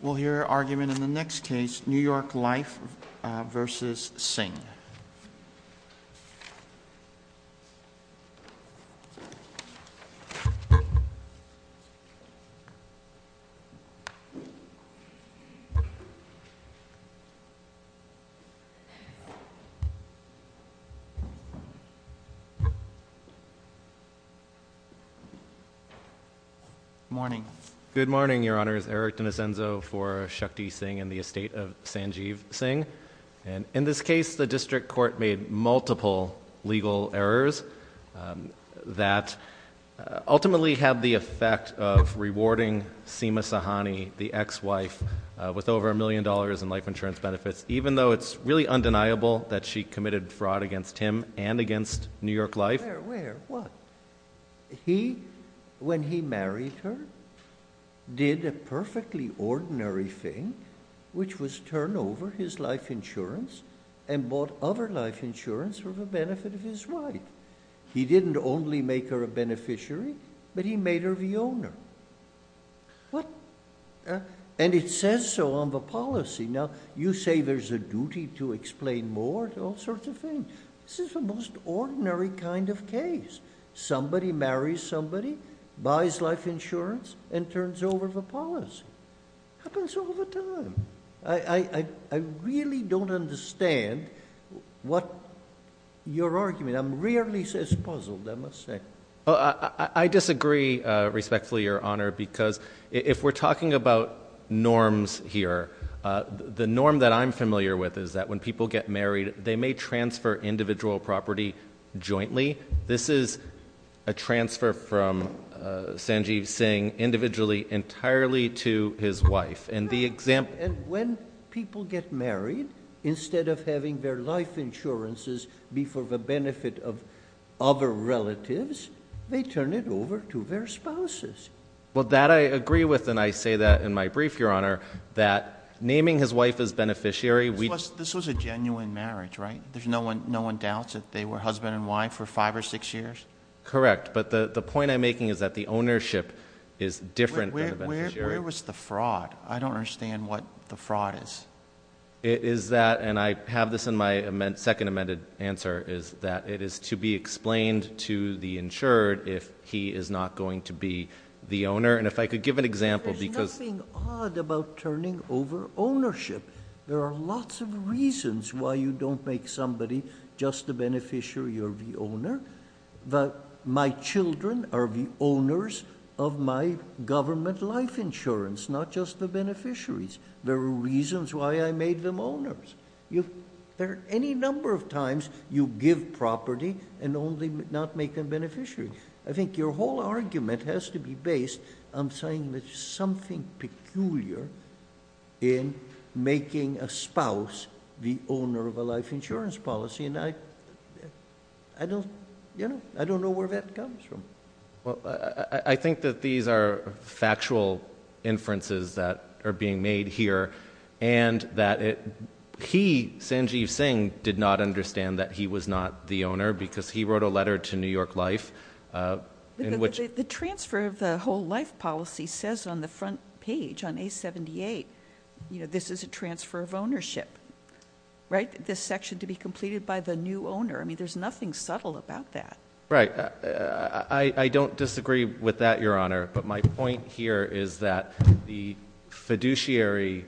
We'll hear argument in the next case, New York Life versus Singh. Good morning. Good morning, Your Honors. Eric D'Alessanzo for Shakti Singh and the Estate of Sanjeev Singh. In this case, the district court made multiple legal errors that ultimately had the effect of rewarding Seema Sahani, the ex-wife, with over a million dollars in life insurance benefits, even though it's really undeniable that she committed fraud against him and against New York Life. Where? Where? What? He, when he married her, did a perfectly ordinary thing, which was turn over his life insurance and bought other life insurance for the benefit of his wife. He didn't only make her a beneficiary, but he made her the owner. And it says so on the policy. Now, you say there's a duty to explain more, all sorts of things. This is the most ordinary kind of case. Somebody marries somebody, buys life insurance, and turns over the policy. Happens all the time. I really don't understand what your argument, I'm really puzzled, I must say. I disagree respectfully, Your Honor, because if we're talking about norms here, the norm that I'm familiar with is that when people get married, they may transfer individual property jointly. This is a transfer from Sanjeev Singh, individually, entirely to his wife. And the example- And when people get married, instead of having their life insurances be for the benefit of other relatives, they turn it over to their spouses. Well, that I agree with, and I say that in my brief, Your Honor, that naming his wife as beneficiary- This was a genuine marriage, right? There's no one doubts that they were husband and wife for five or six years? Correct. But the point I'm making is that the ownership is different than the beneficiary- Where was the fraud? I don't understand what the fraud is. It is that, and I have this in my second amended answer, is that it is to be explained to the insured if he is not going to be the owner. And if I could give an example, because- There's nothing odd about turning over ownership. There are lots of reasons why you don't make somebody just the beneficiary or the owner. My children are the owners of my government life insurance, not just the beneficiaries. There are reasons why I made them owners. There are any number of times you give property and only not make them beneficiary. I think your whole argument has to be based on saying there's something peculiar in making a spouse the owner of a life insurance policy, and I don't know where that comes from. Well, I think that these are factual inferences that are being made here, and that he, Sanjeev Singh, did not understand that he was not the owner because he wrote a letter to New York in which- The transfer of the whole life policy says on the front page, on A78, this is a transfer of ownership, right? This section to be completed by the new owner. I mean, there's nothing subtle about that. Right. I don't disagree with that, Your Honor, but my point here is that the fiduciary,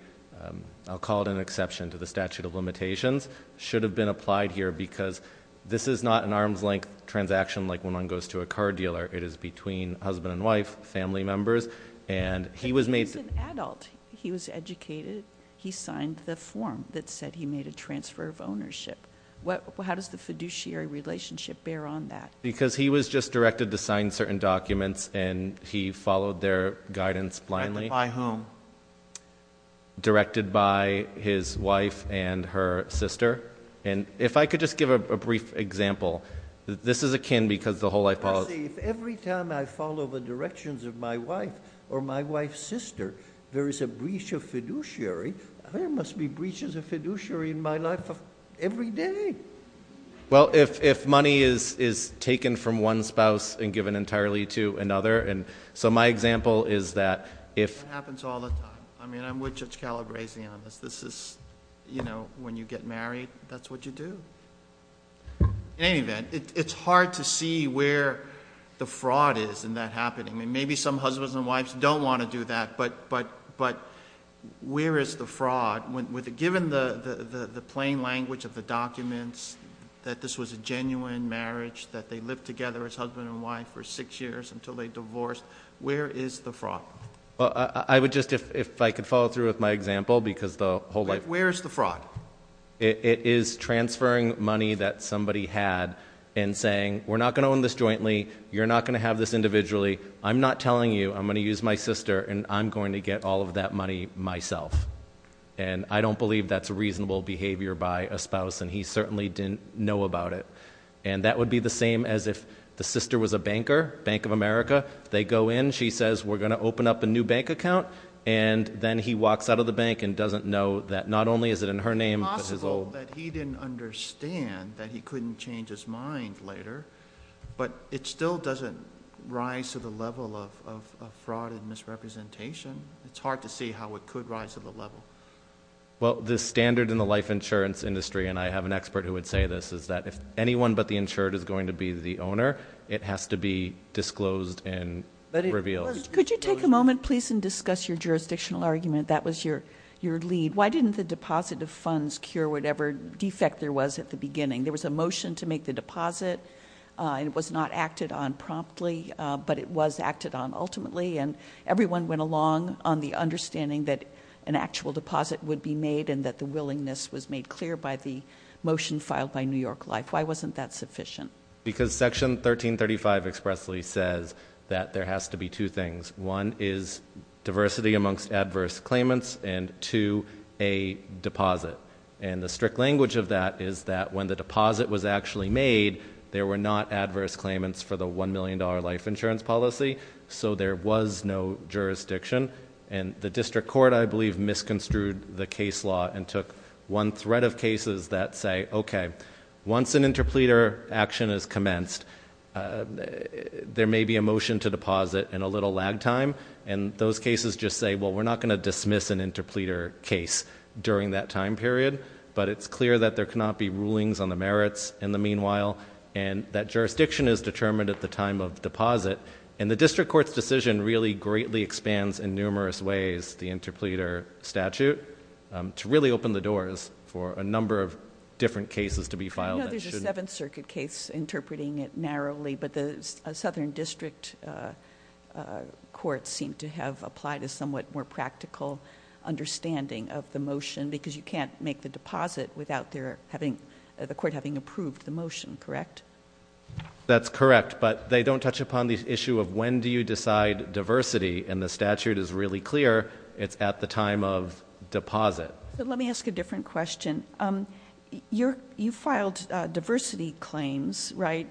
I'll call it an exception to the statute of limitations, should have been applied here because this is not an arm's length transaction like when one goes to a car dealer. It is between husband and wife, family members, and he was made- He's an adult. He was educated. He signed the form that said he made a transfer of ownership. How does the fiduciary relationship bear on that? Because he was just directed to sign certain documents, and he followed their guidance blindly. Directed by whom? Directed by his wife and her sister. If I could just give a brief example. This is akin because the whole life policy- Let's see. If every time I follow the directions of my wife or my wife's sister, there is a breach of fiduciary, there must be breaches of fiduciary in my life every day. Well, if money is taken from one spouse and given entirely to another, and so my example is that if- It happens all the time. I mean, I'm with Judge Calabresi on this. This is, you know, when you get married, that's what you do. In any event, it's hard to see where the fraud is in that happening. Maybe some husbands and wives don't want to do that, but where is the fraud? Given the plain language of the documents, that this was a genuine marriage, that they lived together as husband and wife for six years until they divorced, where is the fraud? Well, I would just, if I could follow through with my example, because the whole life- Where is the fraud? It is transferring money that somebody had and saying, we're not going to own this jointly, you're not going to have this individually, I'm not telling you, I'm going to use my sister and I'm going to get all of that money myself. And I don't believe that's a reasonable behavior by a spouse, and he certainly didn't know about it. And that would be the same as if the sister was a banker, Bank of America, they go in, she says, we're going to open up a new bank account, and then he walks out of the bank and doesn't know that not only is it in her name, but his own- It's possible that he didn't understand that he couldn't change his mind later, but it still doesn't rise to the level of fraud and misrepresentation. It's hard to see how it could rise to the level. Well, the standard in the life insurance industry, and I have an expert who would say this, is that if anyone but the insured is going to be the owner, it has to be disclosed and revealed. Could you take a moment, please, and discuss your jurisdictional argument? That was your lead. Why didn't the deposit of funds cure whatever defect there was at the beginning? There was a motion to make the deposit, and it was not acted on promptly, but it was acted on ultimately, and everyone went along on the understanding that an actual deposit would be made and that the willingness was made clear by the motion filed by New York Life. Why wasn't that sufficient? Because Section 1335 expressly says that there has to be two things. One is diversity amongst adverse claimants, and two, a deposit. The strict language of that is that when the deposit was actually made, there were not adverse claimants for the $1 million life insurance policy, so there was no jurisdiction. The district court, I believe, misconstrued the case law and took one thread of cases that say, okay, once an interpleader action is commenced, there may be a motion to deposit in a little lag time, and those cases just say, well, we're not going to dismiss an interpleader case during that time period, but it's clear that there cannot be rulings on the merits in the meanwhile, and that jurisdiction is determined at the time of deposit. The district court's decision really greatly expands in numerous ways the interpleader statute to really open the doors for a number of different cases to be filed. I know there's a Seventh Circuit case interpreting it narrowly, but the southern district courts seem to have applied a somewhat more practical understanding of the motion because you can't make the deposit without the court having approved the motion, correct? That's correct, but they don't touch upon the issue of when do you decide diversity, and the statute is really clear. It's at the time of deposit. Let me ask a different question. You filed diversity claims, right?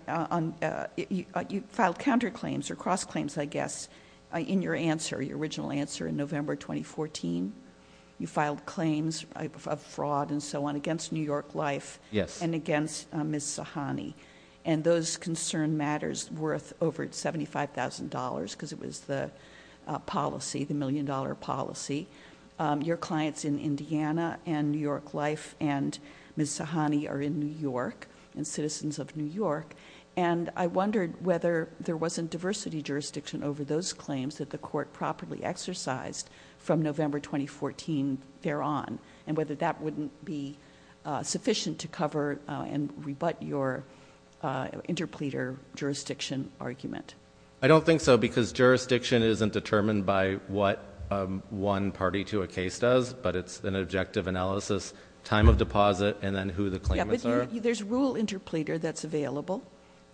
You filed counterclaims or cross-claims, I guess, in your answer, your original answer in November 2014. You filed claims of fraud and so on against New York Life and against Ms. Sahani. Those concern matters worth over $75,000 because it was the policy, the million-dollar policy. Your clients in Indiana and New York Life and Ms. Sahani are in New York and citizens of New York. I wondered whether there wasn't diversity jurisdiction over those claims that the court properly exercised from November 2014 thereon, and whether that wouldn't be sufficient to rebut your interpleader jurisdiction argument. I don't think so because jurisdiction isn't determined by what one party to a case does, but it's an objective analysis, time of deposit, and then who the claimants are. There's rule interpleader that's available,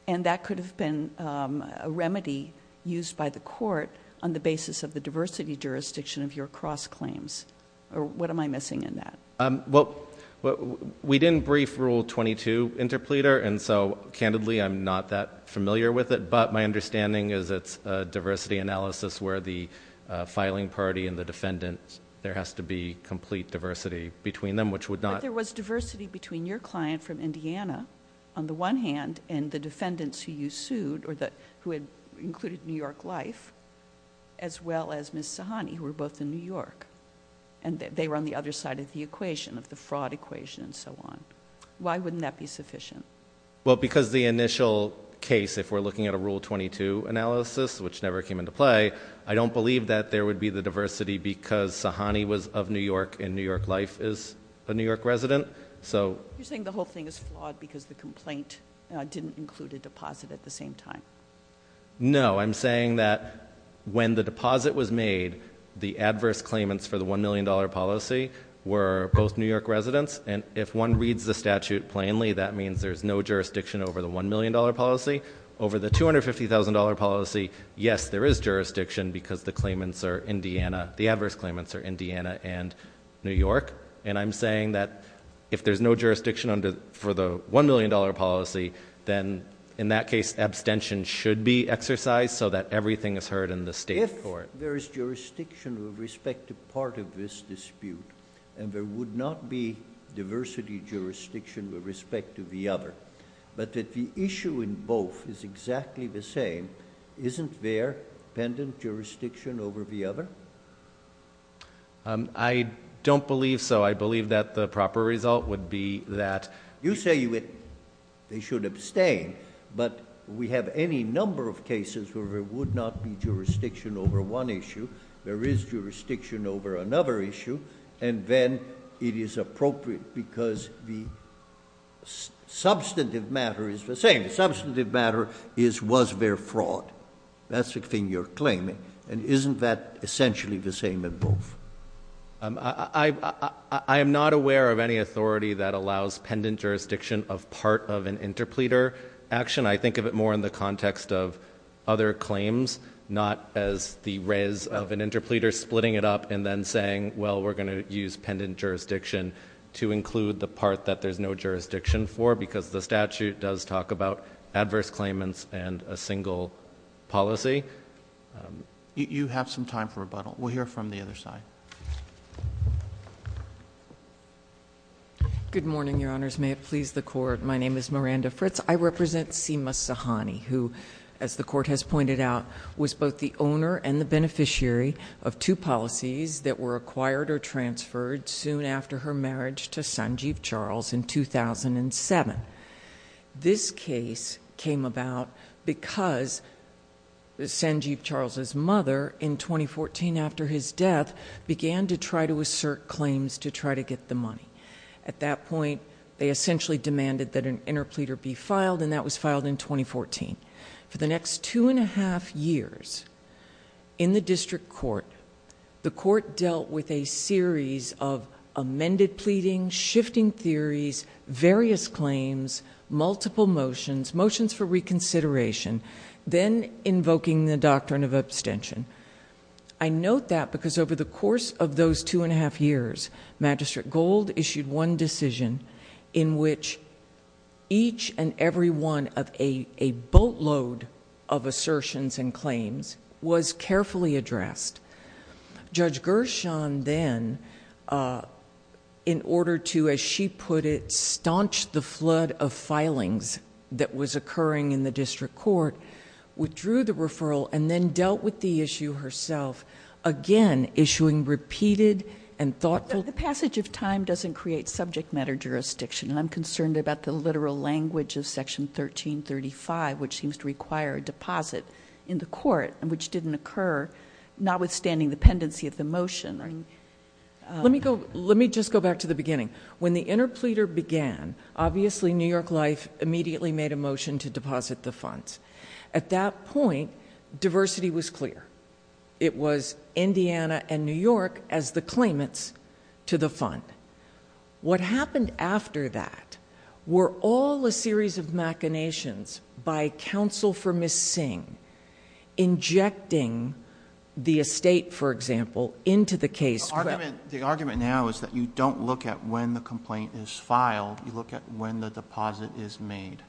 and that could have been a remedy used by the court on the basis of the diversity jurisdiction of your cross-claims. What am I missing in that? Well, we didn't brief Rule 22 interpleader, and so, candidly, I'm not that familiar with it, but my understanding is it's a diversity analysis where the filing party and the defendants, there has to be complete diversity between them, which would not... But there was diversity between your client from Indiana, on the one hand, and the defendants who you sued or who had included New York Life, as well as Ms. Sahani, who were both in New York, and they were on the other side of the equation, of the fraud equation and so on. Why wouldn't that be sufficient? Well, because the initial case, if we're looking at a Rule 22 analysis, which never came into play, I don't believe that there would be the diversity because Sahani was of New York and New York Life is a New York resident, so... You're saying the whole thing is flawed because the complaint didn't include a deposit at the same time. No. I'm saying that when the deposit was made, the adverse claimants for the $1 million policy were both New York residents, and if one reads the statute plainly, that means there's no jurisdiction over the $1 million policy. Over the $250,000 policy, yes, there is jurisdiction because the claimants are Indiana, the adverse claimants are Indiana and New York, and I'm saying that if there's no jurisdiction for the $1 million policy, then in that case, abstention should be exercised so that everything is heard in the state court. If there is jurisdiction with respect to part of this dispute, and there would not be diversity jurisdiction with respect to the other, but that the issue in both is exactly the same, isn't there pendant jurisdiction over the other? I don't believe so. I believe that the proper result would be that... You say they should abstain, but we have any number of cases where there would not be jurisdiction over one issue, there is jurisdiction over another issue, and then it is appropriate because the substantive matter is the same. The substantive matter is, was there fraud? That's the thing you're claiming, and isn't that essentially the same in both? I am not aware of any authority that allows pendant jurisdiction of part of an interpleader action. I think of it more in the context of other claims, not as the res of an interpleader splitting it up and then saying, well, we're going to use pendant jurisdiction to include the part that there's no jurisdiction for because the statute does talk about adverse claimants and a single policy. You have some time for rebuttal. We'll hear from the other side. Good morning, Your Honors. May it please the Court. My name is Miranda Fritz. I represent Seema Sahani, who, as the Court has pointed out, was both the owner and the beneficiary of two policies that were acquired or transferred soon after her marriage to Sanjeev Charles in 2007. This case came about because Sanjeev Charles' mother, in 2014 after his death, began to try to assert claims to try to get the money. At that point, they essentially demanded that an interpleader be filed, and that was filed in 2014. For the next two and a half years, in the district court, the Court dealt with a series of amended pleadings, shifting theories, various claims, multiple motions, motions for reconsideration, then invoking the doctrine of abstention. I note that because over the course of those two and a half years, Magistrate Gold issued one decision in which each and every one of a boatload of assertions and claims was carefully addressed. Judge Gershon then, in order to, as she put it, staunch the flood of filings that was occurring in the district court, withdrew the referral and then dealt with the issue herself, again, issuing repeated and thoughtful... The passage of time doesn't create subject matter jurisdiction, and I'm concerned about the literal language of Section 1335, which seems to require a deposit in the outstanding dependency of the motion. Let me just go back to the beginning. When the interpleader began, obviously New York Life immediately made a motion to deposit the funds. At that point, diversity was clear. It was Indiana and New York as the claimants to the fund. What happened after that were all a series of machinations by counsel for Ms. Singh injecting the estate, for example, into the case... The argument now is that you don't look at when the complaint is filed, you look at when the deposit is made.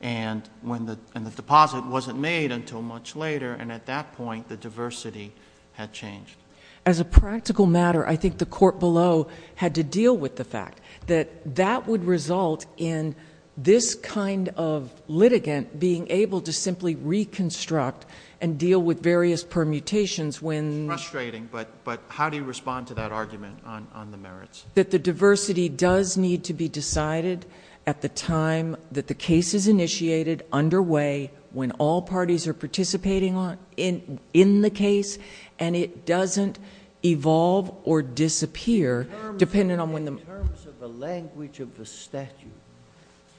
The deposit wasn't made until much later, and at that point, the diversity had changed. As a practical matter, I think the court below had to deal with the fact that that would result in this kind of litigant being able to simply reconstruct and deal with various permutations when... It's frustrating, but how do you respond to that argument on the merits? That the diversity does need to be decided at the time that the case is initiated, underway, when all parties are participating in the case, and it doesn't evolve or disappear depending on when the... In terms of the language of the statute,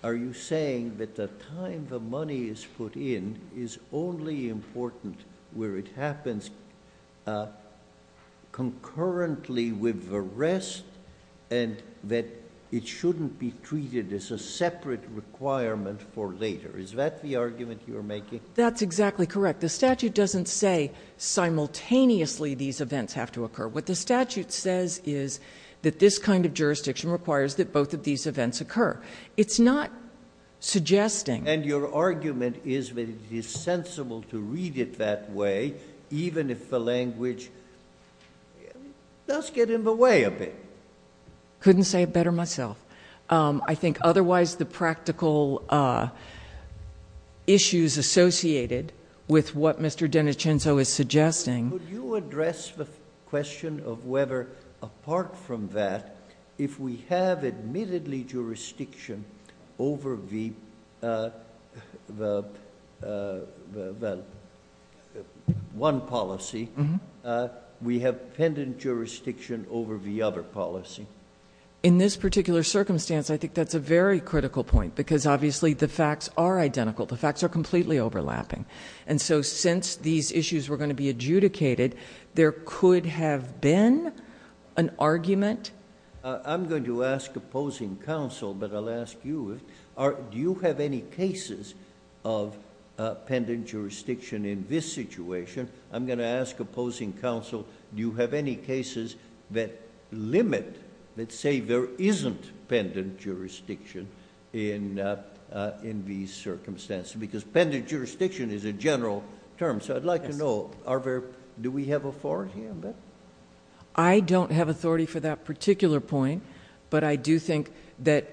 are you saying that the time the money is put in is only important where it happens concurrently with the rest, and that it shouldn't be treated as a separate requirement for later? Is that the argument you're making? That's exactly correct. The statute doesn't say simultaneously these events have to occur. What the statute says is that this kind of jurisdiction requires that both of these events occur. It's not suggesting... And your argument is that it is sensible to read it that way, even if the language does get in the way a bit. Couldn't say it better myself. I think otherwise the practical issues associated with what Mr. D'Anicenzo is suggesting... If we have one policy, we have pendant jurisdiction over the other policy. In this particular circumstance, I think that's a very critical point, because obviously the facts are identical. The facts are completely overlapping. Since these issues were going to be adjudicated, there could have been an argument... I'm going to ask opposing counsel, but I'll ask you, do you have any cases of pendant jurisdiction in this situation? I'm going to ask opposing counsel, do you have any cases that limit, that say there isn't pendant jurisdiction in these circumstances? Because pendant jurisdiction is a general term, so I'd like to know, do we have authority on that? I don't have authority for that particular point, but I do think that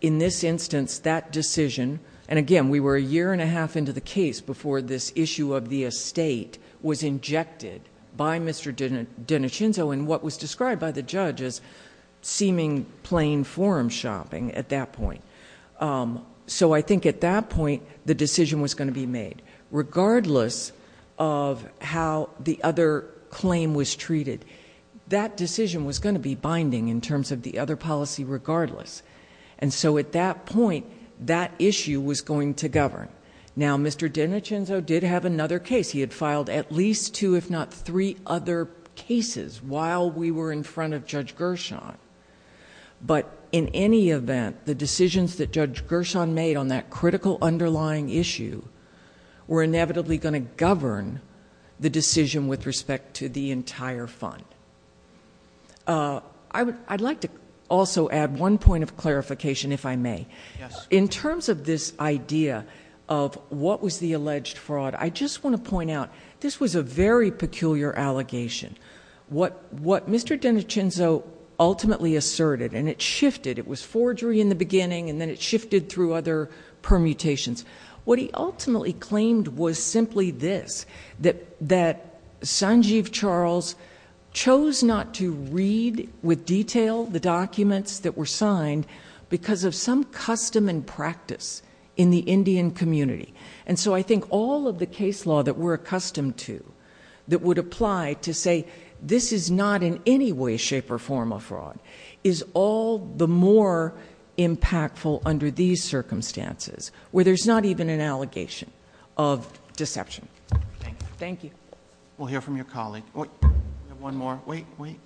in this instance, that decision... Again, we were a year and a half into the case before this issue of the estate was injected by Mr. D'Anicenzo in what was described by the judge as seeming plain form shopping at that point. I think at that point, the decision was going to be made, regardless of how the other claim was treated. That decision was going to be binding in terms of the other policy, regardless. At that point, that issue was going to govern. Now, Mr. D'Anicenzo did have another case. He had filed at least two, if not three other cases while we were in front of Judge Gershon, but in any event, the decisions that Judge Gershon made on that critical underlying issue were inevitably going to govern the decision with respect to the entire fund. I'd like to also add one point of clarification, if I may. In terms of this idea of what was the alleged fraud, I just want to point out, this was a very peculiar allegation. What Mr. D'Anicenzo ultimately asserted, and it shifted. It was forgery in the beginning, and then it shifted through other permutations. What he ultimately claimed was simply this, that Sanjeev Charles chose not to read with detail the documents that were signed because of some custom and practice in the Indian community. I think all of the case law that we're accustomed to, that would apply to say, this is not in any way, shape, or form a fraud, is all the more impactful under these circumstances, where there's not even an allegation of deception. Thank you. We'll hear from your colleague. We have one more. Wait, wait.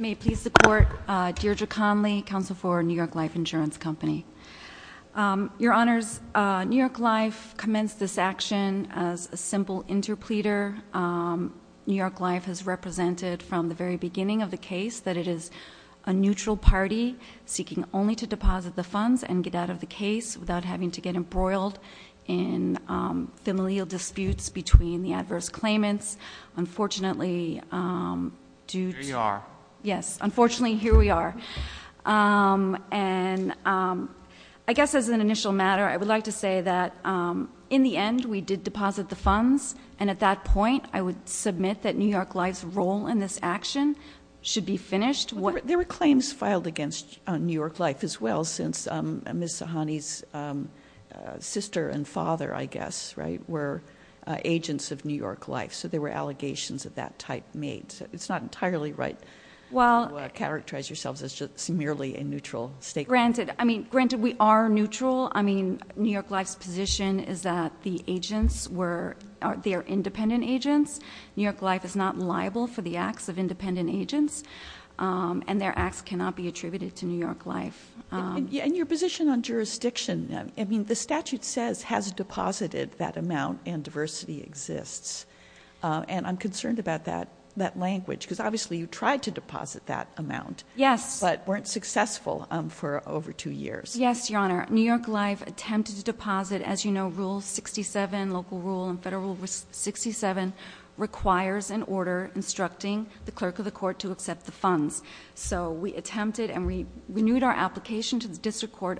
May I please support Deirdre Conley, counsel for New York Life Insurance Company. Your honors, New York Life commenced this action as a simple interpleader. New York Life has represented from the very beginning of the case that it is a neutral party seeking only to deposit the funds and get out of the case without having to get embroiled in familial disputes between the adverse claimants. Unfortunately, due to- Here you are. Yes, unfortunately, here we are. And I guess as an initial matter, I would like to say that in the end, we did deposit the funds. And at that point, I would submit that New York Life's role in this action should be finished. There were claims filed against New York Life as well, since Ms. Sahani's sister and father, I guess, were agents of New York Life. So there were allegations of that type made. It's not entirely right to characterize yourselves as just merely a neutral stakeholder. Granted, I mean, granted we are neutral. I mean, New York Life's position is that the agents were, they are independent agents. New York Life is not liable for the acts of independent agents, and their acts cannot be attributed to New York Life. And your position on jurisdiction, I mean, the statute says has deposited that amount, and diversity exists. And I'm concerned about that language, because obviously you tried to deposit that amount. Yes. But weren't successful for over two years. Yes, Your Honor. New York Life attempted to deposit, as you know, rule 67, local rule and federal rule 67, requires an order instructing the clerk of the court to accept the funds. So we attempted and we renewed our application to the district court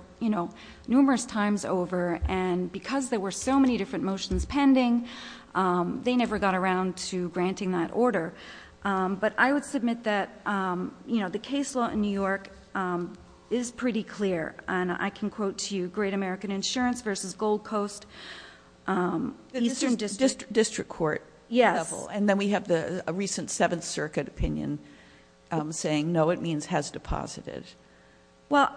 numerous times over. And because there were so many different motions pending, they never got around to granting that order. But I would submit that the case law in New York is pretty clear. And I can quote to you, Great American Insurance versus Gold Coast Eastern District. District court. Yes. And then we have a recent Seventh Circuit opinion saying, no, it means has deposited. Well,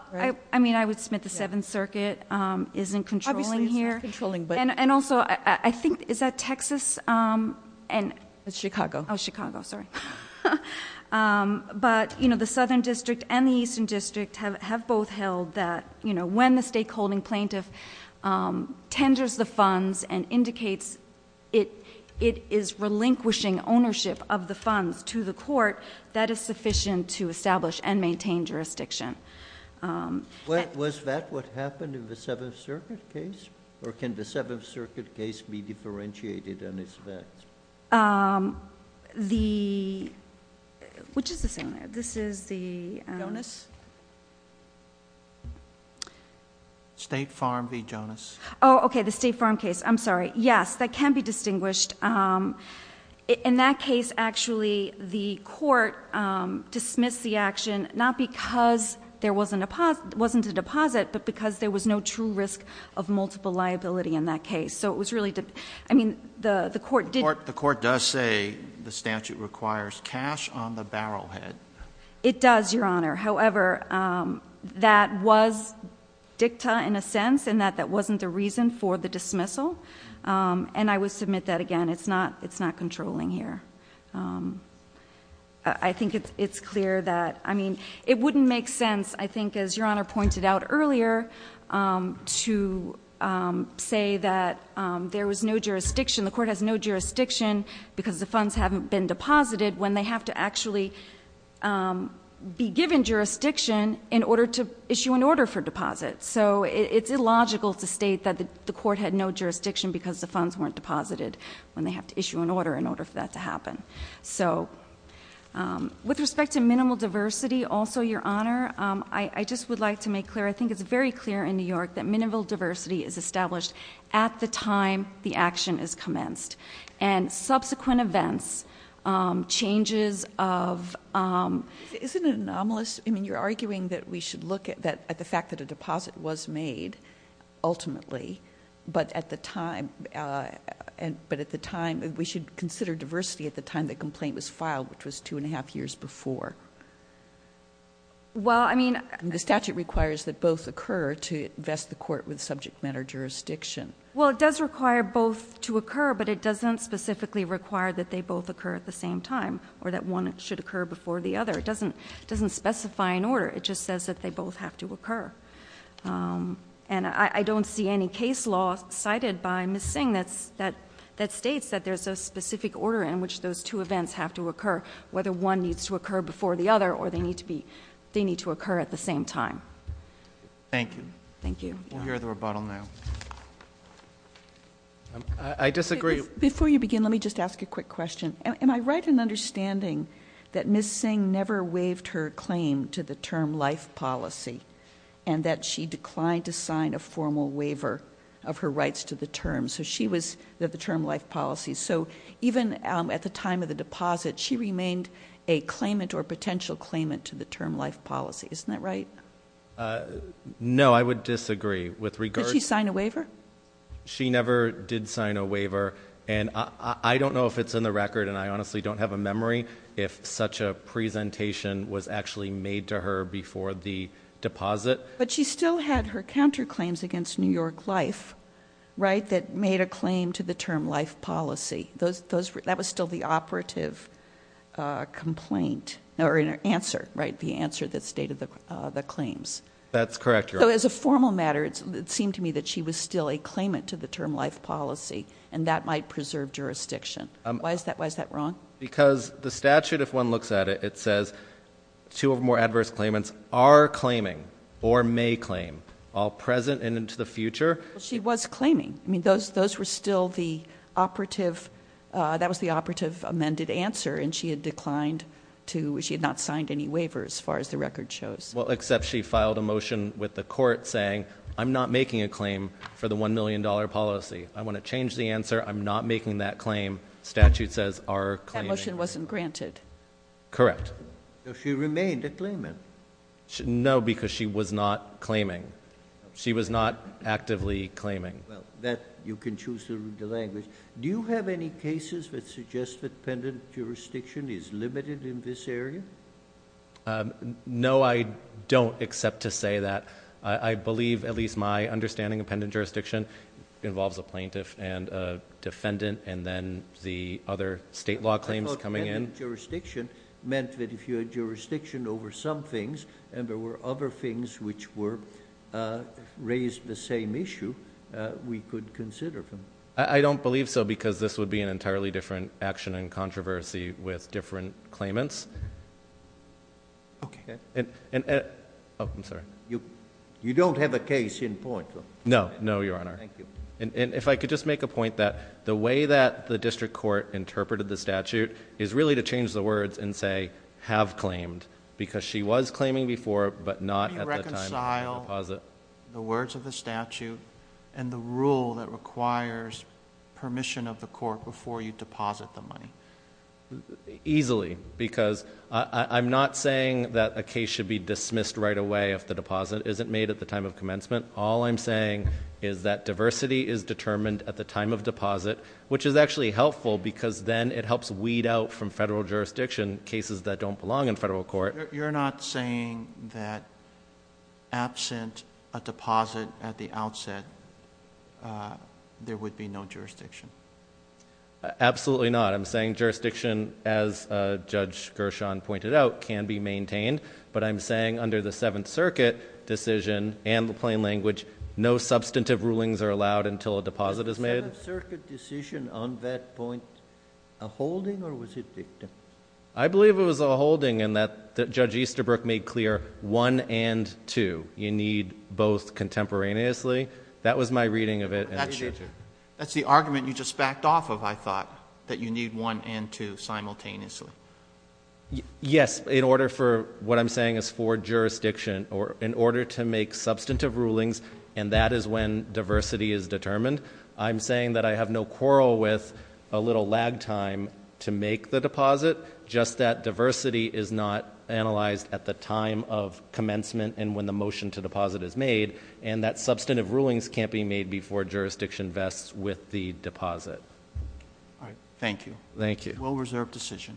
I mean, I would submit the Seventh Circuit isn't controlling here. Obviously, it's not controlling, but- And also, I think, is that Texas and- It's Chicago. Oh, Chicago, sorry. But the Southern District and the Eastern District have both held that when the stakeholding plaintiff tenders the funds and indicates it is relinquishing ownership of the funds to the court, that is sufficient to establish and maintain jurisdiction. Was that what happened in the Seventh Circuit case? Or can the Seventh Circuit case be differentiated on this fact? The, which is this owner? This is the- Jonas? State Farm v. Jonas. Okay, the State Farm case, I'm sorry. Yes, that can be distinguished. In that case, actually, the court dismissed the action, not because there wasn't a deposit, but because there was no true risk of multiple liability in that case. So it was really, I mean, the court did- The court does say the statute requires cash on the barrel head. It does, Your Honor. However, that was dicta in a sense, in that that wasn't the reason for the dismissal. And I would submit that again, it's not controlling here. I think it's clear that, I mean, it wouldn't make sense, I think, as Your Honor pointed out earlier, to say that there was no jurisdiction, the court has no jurisdiction because the funds haven't been deposited. When they have to actually be given jurisdiction in order to issue an order for deposit. So it's illogical to state that the court had no jurisdiction because the funds weren't deposited. When they have to issue an order in order for that to happen. So, with respect to minimal diversity, also, Your Honor, I just would like to make clear. I think it's very clear in New York that minimal diversity is established at the time the action is commenced. And subsequent events, changes of- Isn't it anomalous? I mean, you're arguing that we should look at the fact that a deposit was made, ultimately. But at the time, we should consider diversity at the time the complaint was filed, which was two and a half years before. Well, I mean- The statute requires that both occur to vest the court with subject matter jurisdiction. Well, it does require both to occur, but it doesn't specifically require that they both occur at the same time, or that one should occur before the other. It doesn't specify an order, it just says that they both have to occur. And I don't see any case law cited by Ms. Singh that states that there's a specific order in which those two events have to occur. Whether one needs to occur before the other, or they need to occur at the same time. Thank you. Thank you. We'll hear the rebuttal now. I disagree- Before you begin, let me just ask a quick question. Am I right in understanding that Ms. Singh never waived her claim to the term life policy? And that she declined to sign a formal waiver of her rights to the term. So she was, the term life policy. So even at the time of the deposit, she remained a claimant or potential claimant to the term life policy. Isn't that right? No, I would disagree with regard- Did she sign a waiver? She never did sign a waiver. And I don't know if it's in the record, and I honestly don't have a memory if such a presentation was actually made to her before the deposit. But she still had her counterclaims against New York Life, right, that made a claim to the term life policy. That was still the operative complaint, or answer, right, the answer that stated the claims. That's correct, Your Honor. So as a formal matter, it seemed to me that she was still a claimant to the term life policy, and that might preserve jurisdiction. Why is that wrong? Because the statute, if one looks at it, it says two or more adverse claimants are claiming or may claim, all present and into the future. She was claiming. I mean, those were still the operative, that was the operative amended answer. And she had declined to, she had not signed any waivers as far as the record shows. Well, except she filed a motion with the court saying, I'm not making a claim for the $1 million policy. I want to change the answer. I'm not making that claim. Statute says, are claiming. That motion wasn't granted. Correct. So she remained a claimant. No, because she was not claiming. She was not actively claiming. That, you can choose the language. Do you have any cases that suggest that pendant jurisdiction is limited in this area? No, I don't, except to say that I believe, at least my understanding of pendant jurisdiction, involves a plaintiff and a defendant, and then the other state law claims coming in. I thought pendant jurisdiction meant that if you had jurisdiction over some things, and there were other things which were, raised the same issue, we could consider them. I don't believe so, because this would be an entirely different action and controversy with different claimants. Okay. And, and, oh, I'm sorry. You, you don't have a case in point? No, no, your honor. And, and if I could just make a point that the way that the district court interpreted the statute is really to change the words and say, have claimed. Because she was claiming before, but not at the time of the deposit. How do you reconcile the words of the statute and the rule that requires permission of the court before you deposit the money? Easily, because I, I, I'm not saying that a case should be dismissed right away if the deposit isn't made at the time of commencement. All I'm saying is that diversity is determined at the time of deposit, which is actually helpful because then it helps weed out from federal jurisdiction cases that don't belong in federal court. You're not saying that absent a deposit at the outset, there would be no jurisdiction? Absolutely not. I'm saying jurisdiction, as Judge Gershon pointed out, can be maintained. But I'm saying under the Seventh Circuit decision and the plain language, no substantive rulings are allowed until a deposit is made. Was the Seventh Circuit decision on that point a holding or was it dictum? I believe it was a holding in that Judge Easterbrook made clear one and two. You need both contemporaneously. That was my reading of it. That's the argument you just backed off of, I thought, that you need one and two simultaneously. Yes, in order for what I'm saying is for jurisdiction, or in order to make substantive rulings, and that is when diversity is determined. I'm saying that I have no quarrel with a little lag time to make the deposit, just that diversity is not analyzed at the time of commencement and when the motion to deposit is made. And that substantive rulings can't be made before jurisdiction vests with the deposit. Thank you. Thank you. Well-reserved decision.